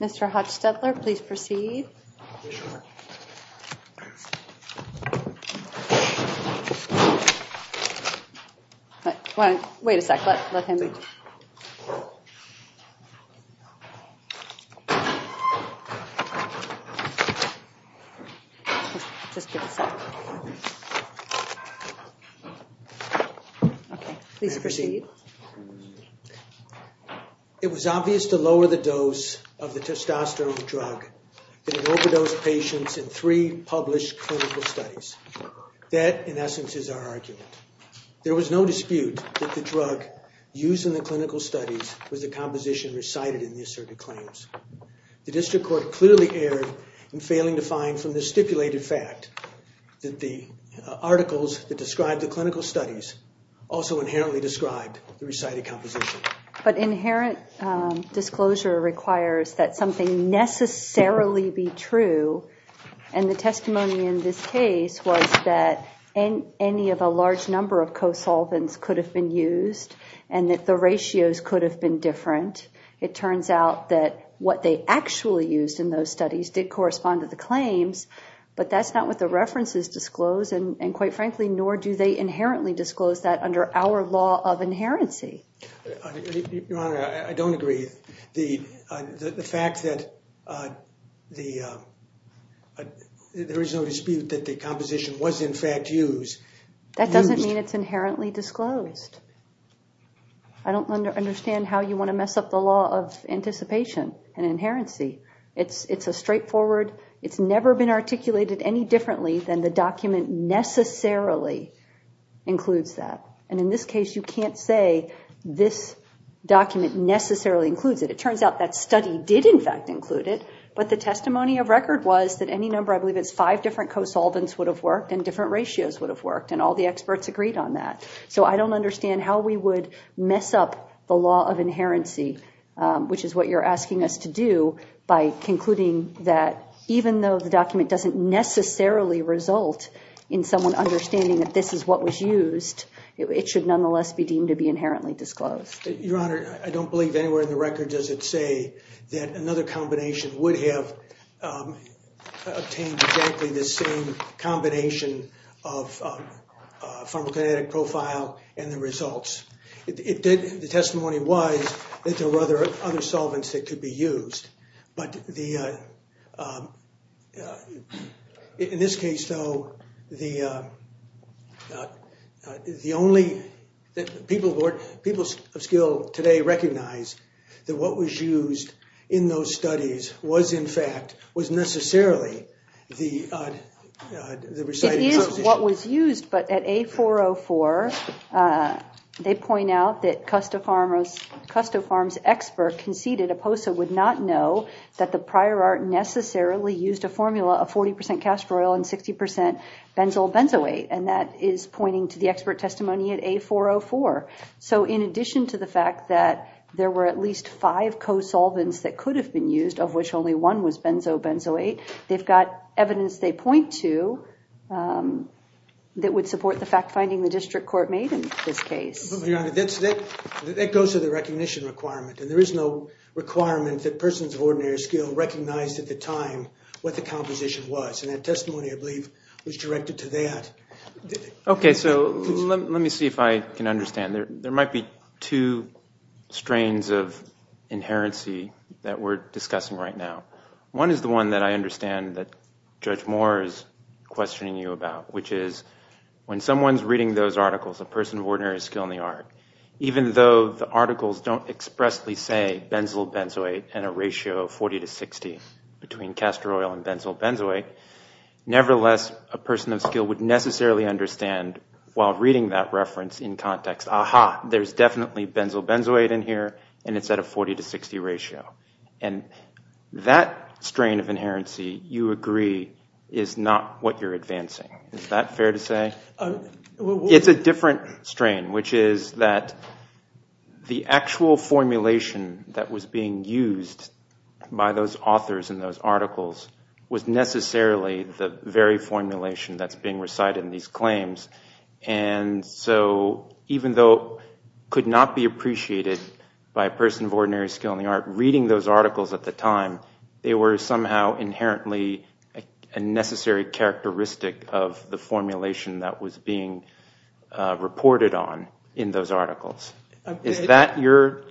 Mr. Hatch-Stetler, please proceed. It was obvious to lower the dose of the testosterone drug in an overdose of patients in three published clinical studies. That, in essence, is our argument. There was no dispute that the drug used in the clinical studies was the composition recited in the asserted claims. The district court clearly erred in failing to find from the stipulated fact that the articles that describe the clinical studies also inherently described the recited composition. But the testimony in this case was that any of a large number of co-solvents could have been used and that the ratios could have been different. It turns out that what they actually used in those studies did correspond to the claims, but that's not what the references disclose and quite frankly, nor do they inherently disclose that under our law of inherency. Your Honor, I don't agree. The fact that there is no dispute that the composition was in fact used. That doesn't mean it's inherently disclosed. I don't understand how you want to mess up the law of anticipation and inherency. It's a straightforward, it's never been articulated any differently than the document necessarily includes that. And in this case, you can't say this document necessarily includes it. It turns out that study did in fact include it, but the testimony of record was that any number, I believe it's five different co-solvents, would have worked and different ratios would have worked and all the experts agreed on that. So I don't understand how we would mess up the law of inherency, which is what you're asking us to do, by concluding that even though the document doesn't necessarily result in someone understanding that this is what was used, it should nonetheless be deemed to be inherently disclosed. Your Honor, I don't believe anywhere in the record does it say that another combination would have obtained exactly the same combination of pharmacokinetic profile and the results. The testimony was that there were other other solvents that could be used, but in this case though, the people of skill today recognize that what was used in those studies was in fact, was Custofarm's expert conceded Oposa would not know that the prior art necessarily used a formula of 40% castor oil and 60% benzobenzoate, and that is pointing to the expert testimony at A404. So in addition to the fact that there were at least five co-solvents that could have been used, of which only one was benzobenzoate, they've got evidence they point to that would That goes to the recognition requirement, and there is no requirement that persons of ordinary skill recognized at the time what the composition was, and that testimony, I believe, was directed to that. Okay, so let me see if I can understand. There might be two strains of inherency that we're discussing right now. One is the one that I understand that Judge Moore is questioning you about, which is when someone's reading those articles, a person of ordinary skill in the art, even though the articles don't expressly say benzobenzoate and a ratio of 40 to 60 between castor oil and benzobenzoate, nevertheless a person of skill would necessarily understand while reading that reference in context, aha, there's definitely benzobenzoate in here and it's at a 40 to 60 ratio, and that strain of inherency, you agree, is not what you're advancing. Is that fair to say? It's a different strain, which is that the actual formulation that was being used by those authors in those articles was necessarily the very formulation that's being recited in these claims, and so even though could not be appreciated by a person of ordinary skill in the art reading those articles at the time, they were somehow inherently a necessary characteristic of the formulation that was being reported on in those articles. Is that your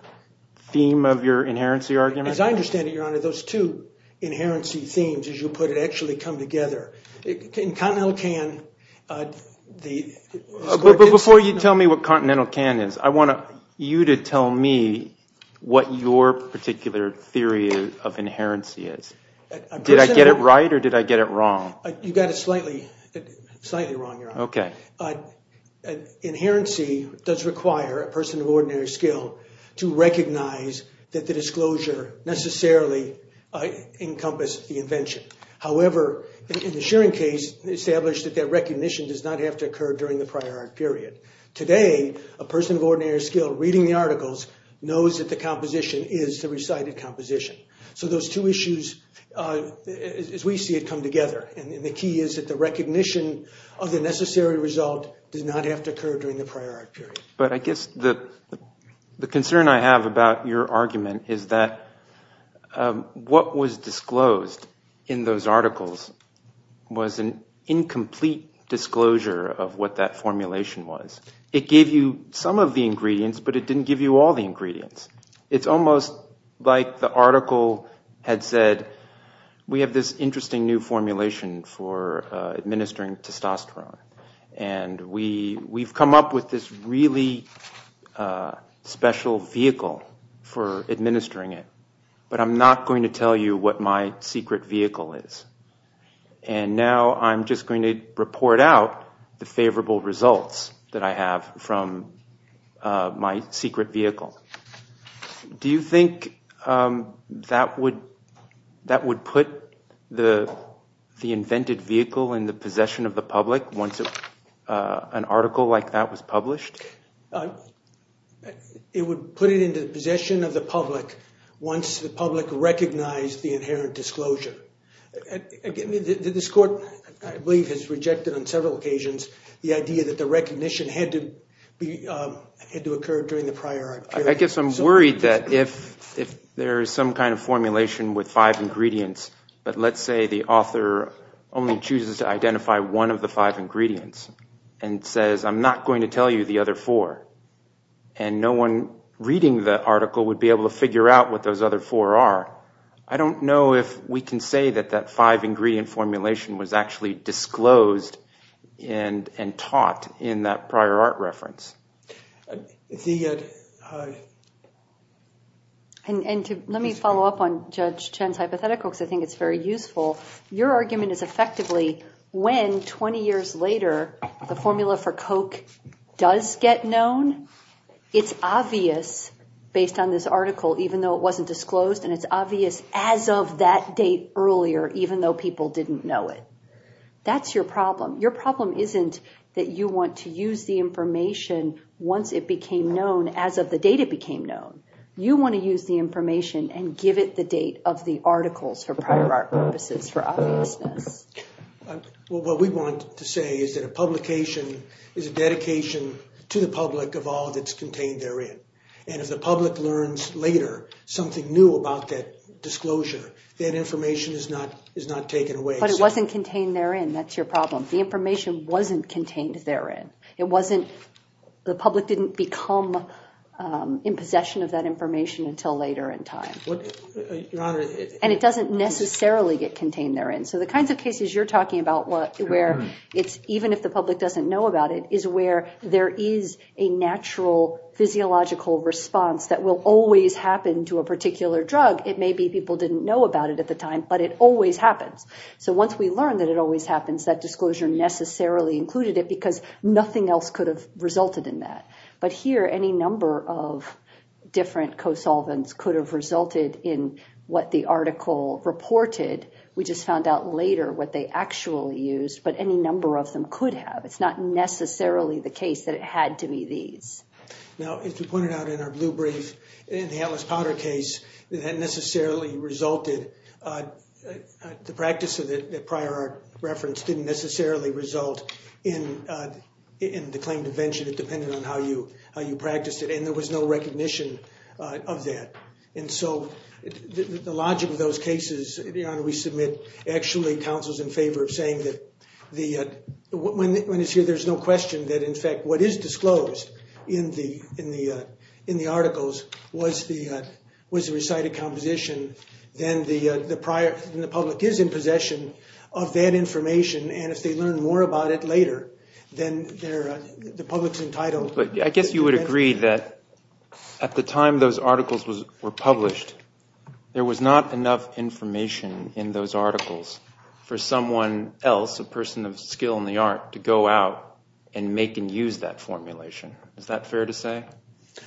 theme of your inherency argument? As I understand it, your honor, those two inherency themes, as you put it, actually come together. In Continental Can... But before you tell me what Continental Can is, I want you to tell me what your particular theory of inherency is. Did I get it right or did I get it slightly wrong, your honor? Okay. Inherency does require a person of ordinary skill to recognize that the disclosure necessarily encompassed the invention. However, in the Shearing case, established that that recognition does not have to occur during the prior art period. Today, a person of ordinary skill reading the articles knows that the composition is the recited composition. So those two issues, as we see it, come together, and the key is that the recognition of the necessary result does not have to occur during the prior art period. But I guess the concern I have about your argument is that what was disclosed in those articles was an incomplete disclosure of what that formulation was. It gave you some of the ingredients, but it didn't give you all the ingredients. It's almost like the article had said, we have this interesting new formulation for administering testosterone, and we come up with this really special vehicle for administering it, but I'm not going to tell you what my secret vehicle is. And now I'm just going to report out the Do you think that would put the invented vehicle in the possession of the public once an article like that was published? It would put it into the possession of the public once the public recognized the inherent disclosure. This court, I believe, has rejected on several occasions the idea that the recognition had to occur during the prior art period. I guess I'm worried that if there is some kind of formulation with five ingredients, but let's say the author only chooses to identify one of the five ingredients and says, I'm not going to tell you the other four, and no one reading the article would be able to figure out what those other four are, I don't know if we can say that that five-ingredient formulation was actually disclosed and taught in that prior art reference. And to let me follow up on Judge Chen's hypothetical, because I think it's very useful, your argument is effectively when 20 years later the formula for Coke does get known, it's obvious based on this article even though it wasn't disclosed and it's obvious as of that date earlier even though people didn't know it. That's your problem. Your problem isn't that you want to use the information once it became known as of the date it became known. You want to use the information and give it the date of the articles for prior art purposes for obviousness. What we want to say is that a publication is a dedication to the public of all that's contained therein, and if the public learns later something new about that disclosure, that information is not taken away. But it wasn't contained therein. That's your problem. The information wasn't contained therein. The public didn't become in possession of that information until later in time. And it doesn't necessarily get contained therein. So the kinds of cases you're talking about where it's even if the public doesn't know about it, is where there is a natural physiological response that will always happen to a particular drug. It may be people didn't know about it at the time, but it always happens. So once we learn that it always happens, that disclosure necessarily included it because nothing else could have resulted in that. But here any number of different co-solvents could have resulted in what the article reported. We just found out later what they actually used, but any number of them could have. It's not necessarily the case that it had to be these. Now if you pointed out in our blue brief in the prior art reference didn't necessarily result in the claim to venture. It depended on how you practiced it. And there was no recognition of that. And so the logic of those cases, we submit actually counsels in favor of saying that when it's here there's no question that in fact what is disclosed in the articles was the presided composition, then the public is in possession of that information. And if they learn more about it later, then the public's entitled. But I guess you would agree that at the time those articles were published, there was not enough information in those articles for someone else, a person of skill in the art, to go out and make and use that formulation. Is that fair to say?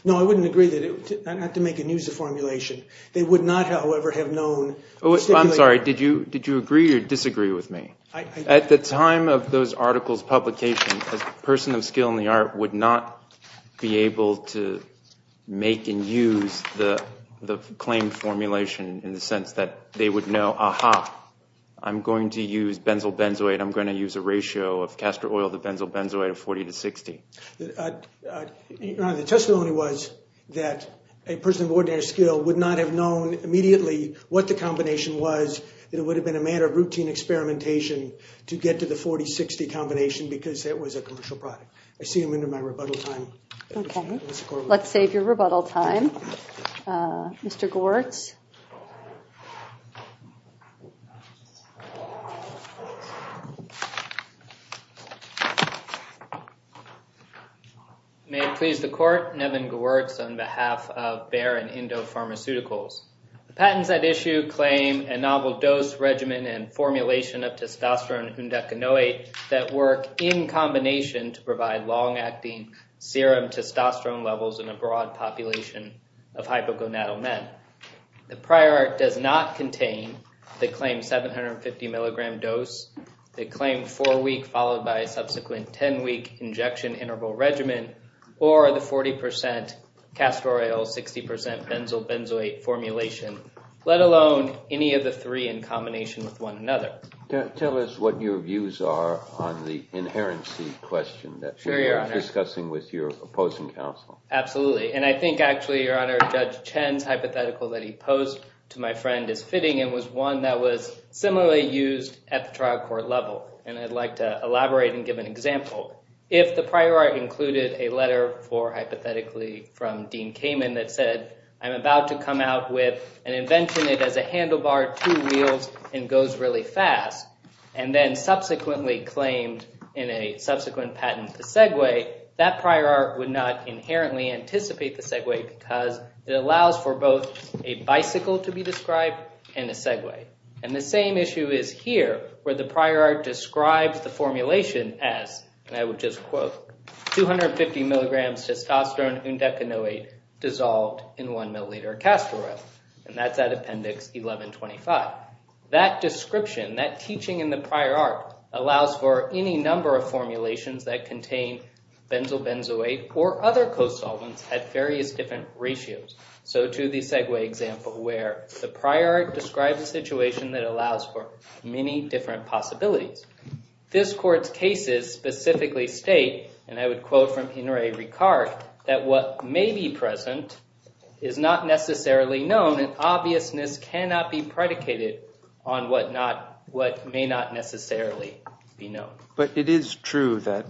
No, I wouldn't agree that it had to make and use a formulation. They would not, however, have known. I'm sorry, did you agree or disagree with me? At the time of those articles publication, a person of skill in the art would not be able to make and use the claim formulation in the sense that they would know, aha, I'm going to use benzyl benzoate, I'm going to use a ratio of castor oil to benzyl benzoate of 40 to 60. The testimony was that a person of ordinary skill would not have known immediately what the combination was. It would have been a matter of routine experimentation to get to the 40-60 combination because it was a commercial product. I see you're into my rebuttal time. Okay, let's save your rebuttal time. Mr. Gewertz on behalf of Bayer and Indo Pharmaceuticals. The patents at issue claim a novel dose regimen and formulation of testosterone and undecanoate that work in combination to provide long-acting serum testosterone levels in a broad population of hypogonadal men. The prior art does not contain the claim 750 milligram dose, the claim four week followed by a 60% castor oil, 60% benzyl benzoate formulation, let alone any of the three in combination with one another. Tell us what your views are on the inherency question that you're discussing with your opposing counsel. Absolutely, and I think actually, Your Honor, Judge Chen's hypothetical that he posed to my friend is fitting and was one that was similarly used at the trial court level, and I'd like to elaborate and give an example. If the prior art included a letter for, hypothetically, from Dean Kamen that said, I'm about to come out with an invention that has a handlebar, two wheels, and goes really fast, and then subsequently claimed in a subsequent patent the segue, that prior art would not inherently anticipate the segue because it allows for both a bicycle to be described and a segue. And the same issue is here, where the prior art describes the formulation as, and I would just quote, 250 milligrams testosterone undecanoate dissolved in one milliliter castor oil, and that's at appendix 1125. That description, that teaching in the prior art, allows for any number of formulations that contain benzyl benzoate or other co-solvents at various different ratios. So to the segue example where the prior art describes a possibility. This court's cases specifically state, and I would quote from Henri Ricard, that what may be present is not necessarily known, and obviousness cannot be predicated on what may not necessarily be known. But it is true that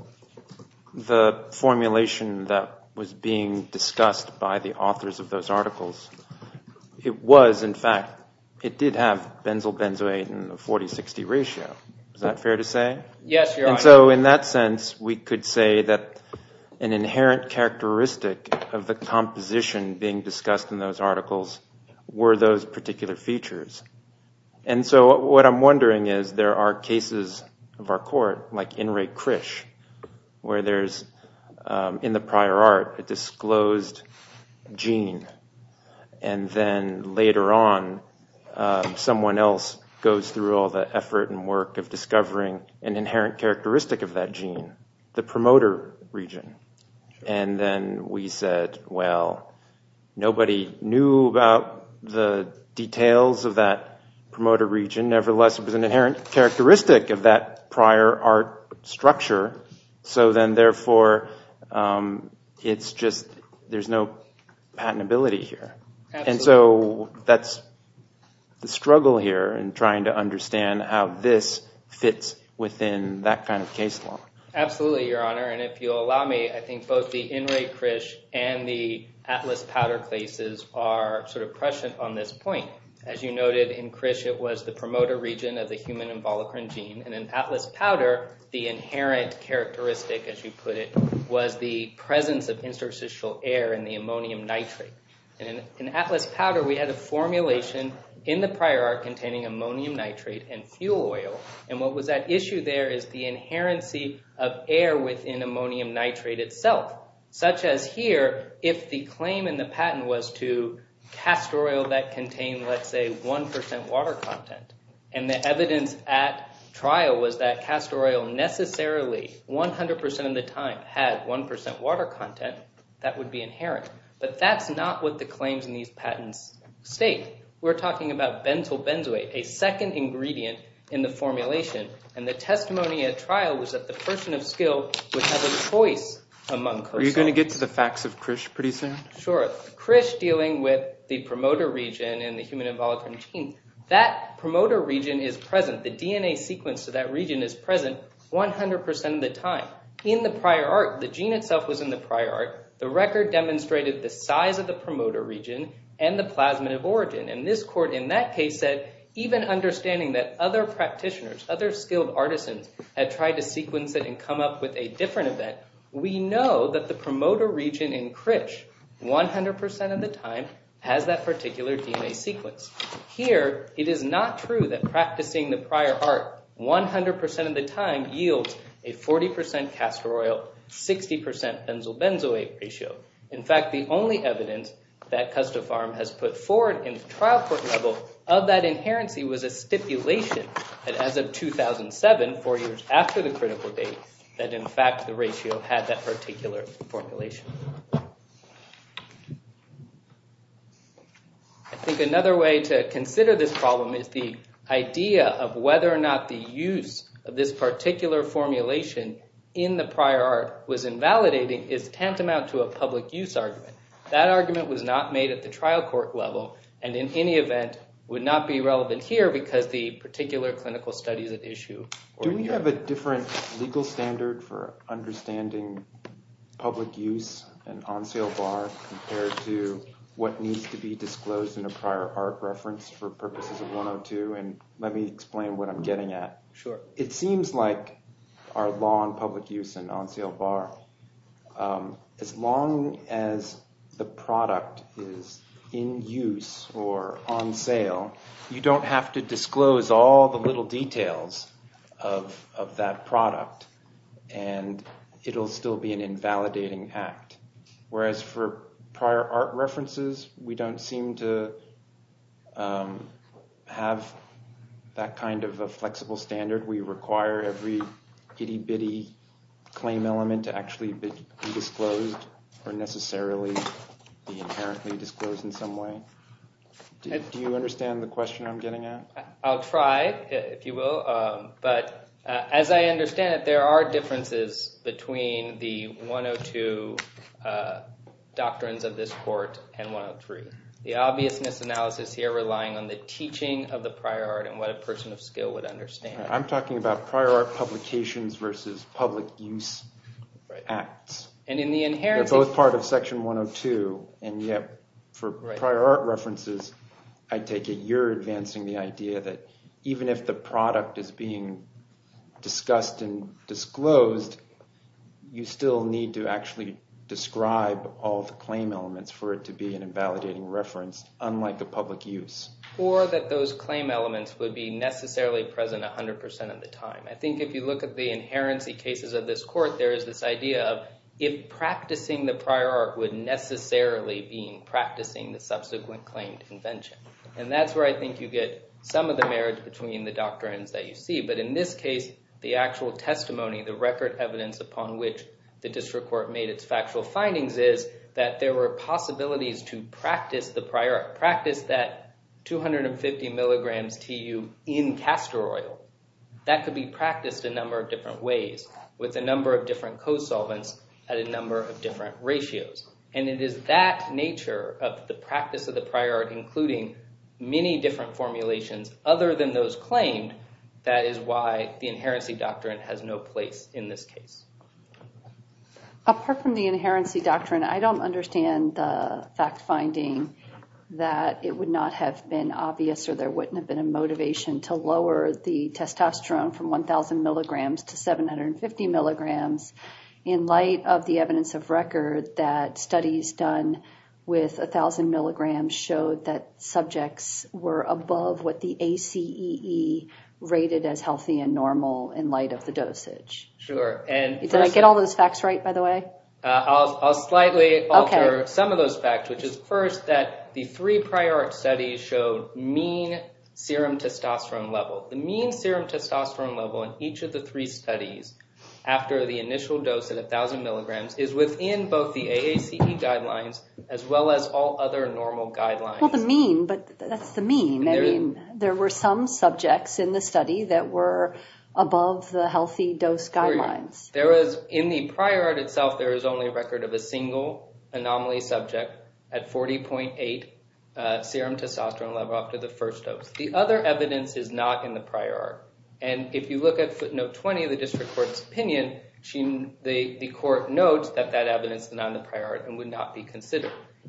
the formulation that was being discussed by the authors of those articles, it was in fact, it did have benzyl benzoate in the 40-60 ratio. Is that fair to say? Yes. So in that sense, we could say that an inherent characteristic of the composition being discussed in those articles were those particular features. And so what I'm wondering is, there are cases of our where there's, in the prior art, a disclosed gene, and then later on someone else goes through all the effort and work of discovering an inherent characteristic of that gene, the promoter region. And then we said, well, nobody knew about the details of that promoter region, nevertheless it was an inherent characteristic of that prior art structure. So then therefore, it's just, there's no patentability here. And so that's the struggle here in trying to understand how this fits within that kind of case law. Absolutely, Your Honor, and if you'll allow me, I think both the Henri Crich and the Atlas Powder Clases are sort of prescient on this point. As you noted, in Crich it was the promoter region of the human embolicron gene, and in Atlas Powder, the inherent characteristic, as you put it, was the presence of interstitial air in the ammonium nitrate. And in Atlas Powder, we had a formulation in the prior art containing ammonium nitrate and fuel oil, and what was that issue there is the inherency of air within ammonium nitrate itself, such as here, if the claim in the evidence at trial was that castor oil necessarily, 100% of the time, had 1% water content, that would be inherent. But that's not what the claims in these patents state. We're talking about benzoyl benzoate, a second ingredient in the formulation, and the testimony at trial was that the person of skill would have a choice among... Are you going to get to the facts of Crich pretty soon? Sure, Crich dealing with the promoter region in the human embolicron gene, that promoter region is present, the DNA sequence to that region is present 100% of the time. In the prior art, the gene itself was in the prior art, the record demonstrated the size of the promoter region and the plasmid of origin, and this court in that case said, even understanding that other practitioners, other skilled artisans, had tried to sequence it and come up with a different event, we know that the promoter region in Crich, 100% of the time, has that proven true, that practicing the prior art 100% of the time yields a 40% castor oil, 60% benzoyl benzoate ratio. In fact, the only evidence that Custofarm has put forward in the trial court level of that inherency was a stipulation that as of 2007, four years after the critical date, that in fact the ratio had that particular formulation. I think another way to consider this problem is the idea of whether or not the use of this particular formulation in the prior art was invalidating is tantamount to a public use argument. That argument was not made at the trial court level and in any event would not be relevant here because the particular clinical studies at issue. Do we have a different legal standard for understanding public use and on sale bar compared to what needs to be disclosed in a prior art reference for purposes of 102 and let me explain what I'm getting at. It seems like our law on public use and on sale bar, as long as the product is in use or on sale, you don't have to disclose all the little details of that product and it'll still be an invalidating act. Whereas for prior art references, we don't seem to have that kind of a flexible standard. We require every itty-bitty claim element to actually be disclosed or necessarily be inherently disclosed in some way. Do you understand the question I'm getting at? I'll try, if you will, but as I the 102 doctrines of this court and 103. The obvious misanalysis here relying on the teaching of the prior art and what a person of skill would understand. I'm talking about prior art publications versus public use acts and in the inherent both part of section 102 and yet for prior art references I take it you're advancing the idea that even if the product is being discussed and need to actually describe all the claim elements for it to be an invalidating reference unlike the public use. Or that those claim elements would be necessarily present a hundred percent of the time. I think if you look at the inherency cases of this court there is this idea of if practicing the prior art would necessarily being practicing the subsequent claimed invention and that's where I think you get some of the marriage between the doctrines that you see but in this case the actual testimony the record evidence upon which the district court made its factual findings is that there were possibilities to practice the prior practice that 250 milligrams TU in castor oil that could be practiced a number of different ways with a number of different co-solvents at a number of different ratios and it is that nature of the practice of the prior art including many different formulations other than those claimed that is why the inherency doctrine has no place in this case. Apart from the inherency doctrine I don't understand the fact-finding that it would not have been obvious or there wouldn't have been a motivation to lower the testosterone from 1,000 milligrams to 750 milligrams in light of the evidence of record that studies done with a thousand milligrams showed that subjects were above what the ACEE rated as healthy and normal in light of the dosage. Did I get all those facts right by the way? I'll slightly alter some of those facts which is first that the three prior art studies showed mean serum testosterone level the mean serum testosterone level in each of the three studies after the initial dose at a thousand milligrams is within both the AACE guidelines as well as all other normal guidelines. Well the mean but that's the mean I mean there were some subjects in the study that were above the healthy dose guidelines. There was in the prior art itself there is only a record of a single anomaly subject at 40.8 serum testosterone level after the first dose. The other evidence is not in the prior art and if you look at footnote 20 of the district court's opinion the court notes that that evidence is not in the prior art and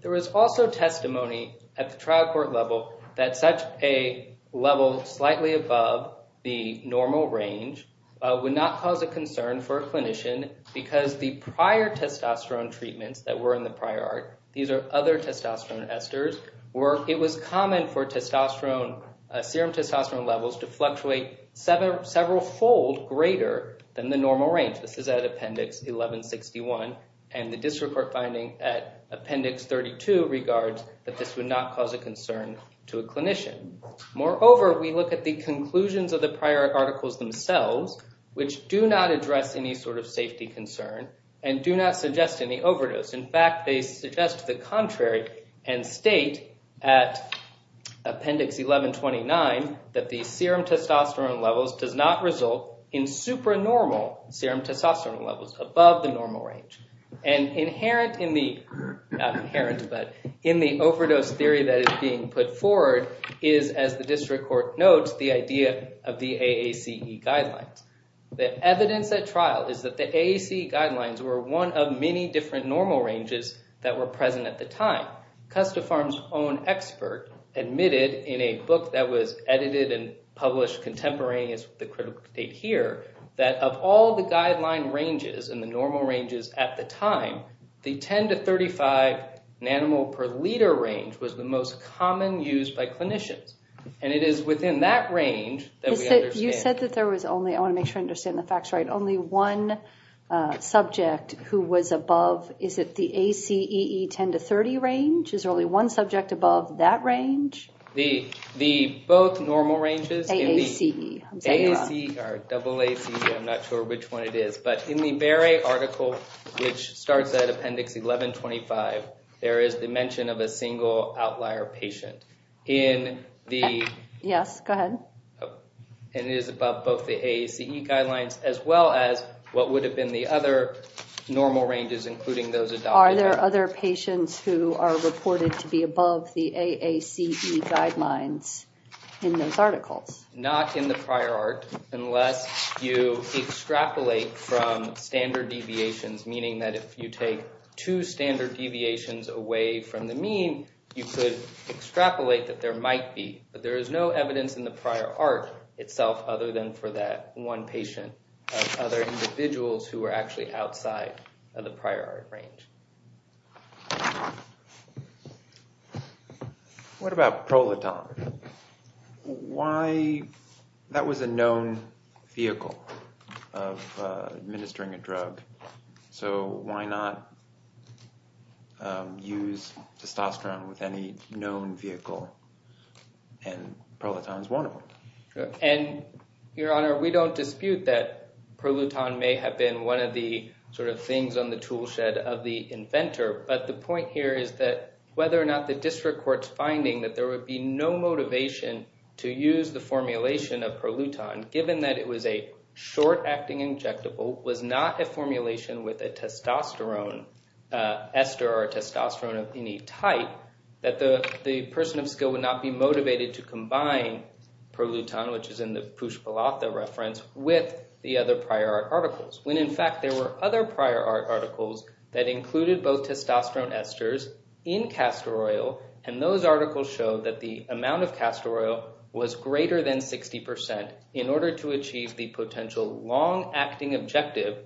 there is also testimony at the trial court level that such a level slightly above the normal range would not cause a concern for a clinician because the prior testosterone treatments that were in the prior art these are other testosterone esters were it was common for testosterone serum testosterone levels to fluctuate several fold greater than the normal range. This is appendix 1161 and the district court finding at appendix 32 regards that this would not cause a concern to a clinician. Moreover we look at the conclusions of the prior articles themselves which do not address any sort of safety concern and do not suggest any overdose. In fact they suggest the contrary and state at appendix 1129 that the serum testosterone levels does not result in supernormal serum testosterone levels above the normal range and inherent in the overdose theory that is being put forward is as the district court notes the idea of the AACE guidelines. The evidence at trial is that the AACE guidelines were one of many different normal ranges that were present at the time. Custafarm's own expert admitted in a book that was of all the guideline ranges and the normal ranges at the time the 10 to 35 nanomole per liter range was the most common used by clinicians and it is within that range that you said that there was only I want to make sure understand the facts right only one subject who was above is it the ACE 10 to 30 range is early one subject above that range the the both normal ranges AACE I'm not sure which one it is but in the very article which starts at appendix 1125 there is the mention of a single outlier patient in the yes go ahead and it is above both the AACE guidelines as well as what would have been the other normal ranges including those are there other patients who are not in the prior art unless you extrapolate from standard deviations meaning that if you take two standard deviations away from the mean you could extrapolate that there might be but there is no evidence in the prior art itself other than for that one patient other individuals who are actually outside of the prior art range what about proletar why that was a known vehicle of administering a drug so why not use testosterone with any known vehicle and proletar is one of them and your honor we don't dispute that proletar may have been one of the sort of things on the toolshed of the inventor but the point here is that whether or not the district court's finding that there would be no motivation to use the formulation of proletar given that it was a short-acting injectable was not a formulation with a testosterone ester or testosterone of any type that the the person of skill would not be motivated to combine proletar which is in the reference with the other prior articles when in fact there were other prior art articles that included both testosterone esters in castor oil and those articles show that the amount of castor oil was greater than 60% in order to achieve the potential long-acting objective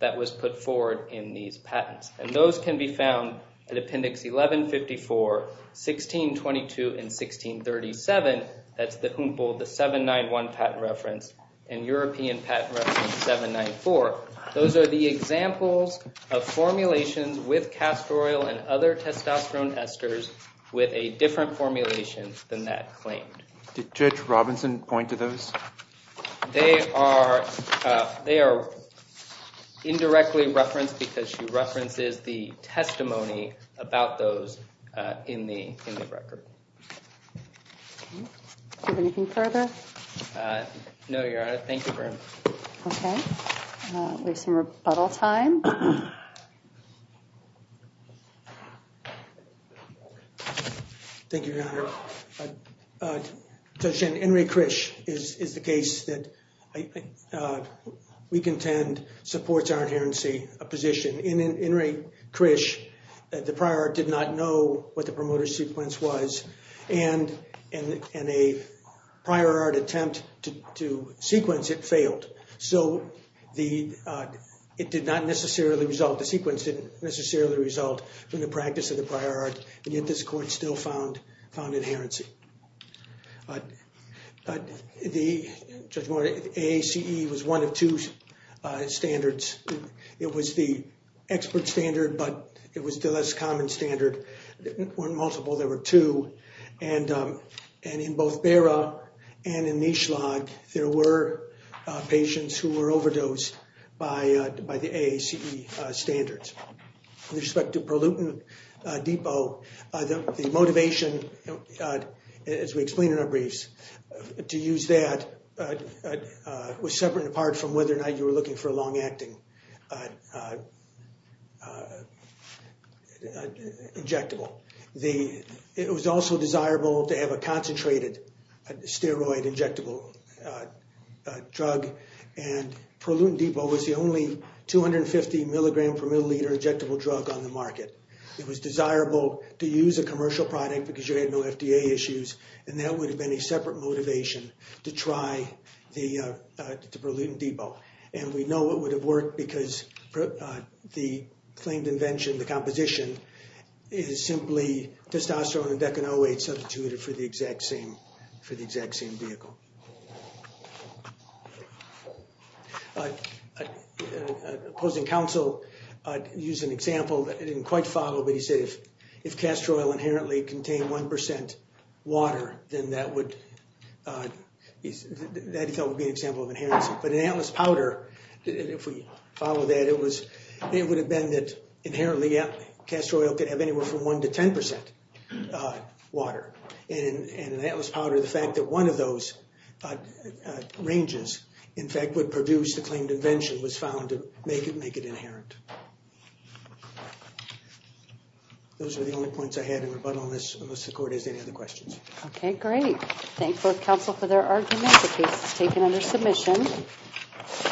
that was put forward in these patents and those can be found at appendix 1154 1622 and 1637 that's the humboldt the 791 patent reference and European patent reference 794 those are the examples of formulations with castor oil and other testosterone esters with a different formulation than that claimed did judge Robinson point to those they are they are indirectly referenced because she references the testimony about those in the in the record anything further no you're out of thank you for okay we've some rebuttal time thank you judge Henry Krish is is the case that we contend supports our adherency a position in in rate Krish the prior did not know what the promoter sequence was and and in a prior art attempt to sequence it failed so the it did not necessarily result the sequence didn't necessarily result from the practice of the prior art and yet this court still found found adherency but the judge wanted a CE was one of two standards it was the expert standard but it was the less common standard weren't multiple there were two and and in both bear up and in each log there were patients who were overdosed by by the a CE standards with respect to pollutant Depot the motivation as we explained in our briefs to use that was separate apart from whether or not you were looking for a long-acting injectable the it was also desirable to have a concentrated steroid injectable drug and Pruitt Depot was the only 250 milligram per milliliter injectable drug on the market it was desirable to use a commercial product because you had no FDA issues and that would have been a separate motivation to try the the pollutant Depot and we know it would have worked because the claimed invention the composition is simply testosterone and decanoate substituted for the exact same for the exact same vehicle but opposing counsel use an example that didn't quite follow but he that he thought would be an example of inheritance but an atlas powder if we follow that it was it would have been that inherently yeah castor oil could have anywhere from one to ten percent water and an atlas powder the fact that one of those ranges in fact would produce the claimed invention was found to make it make it inherent those are the only points I had in rebuttal this okay great thank both counsel for their argument the case is taken under submission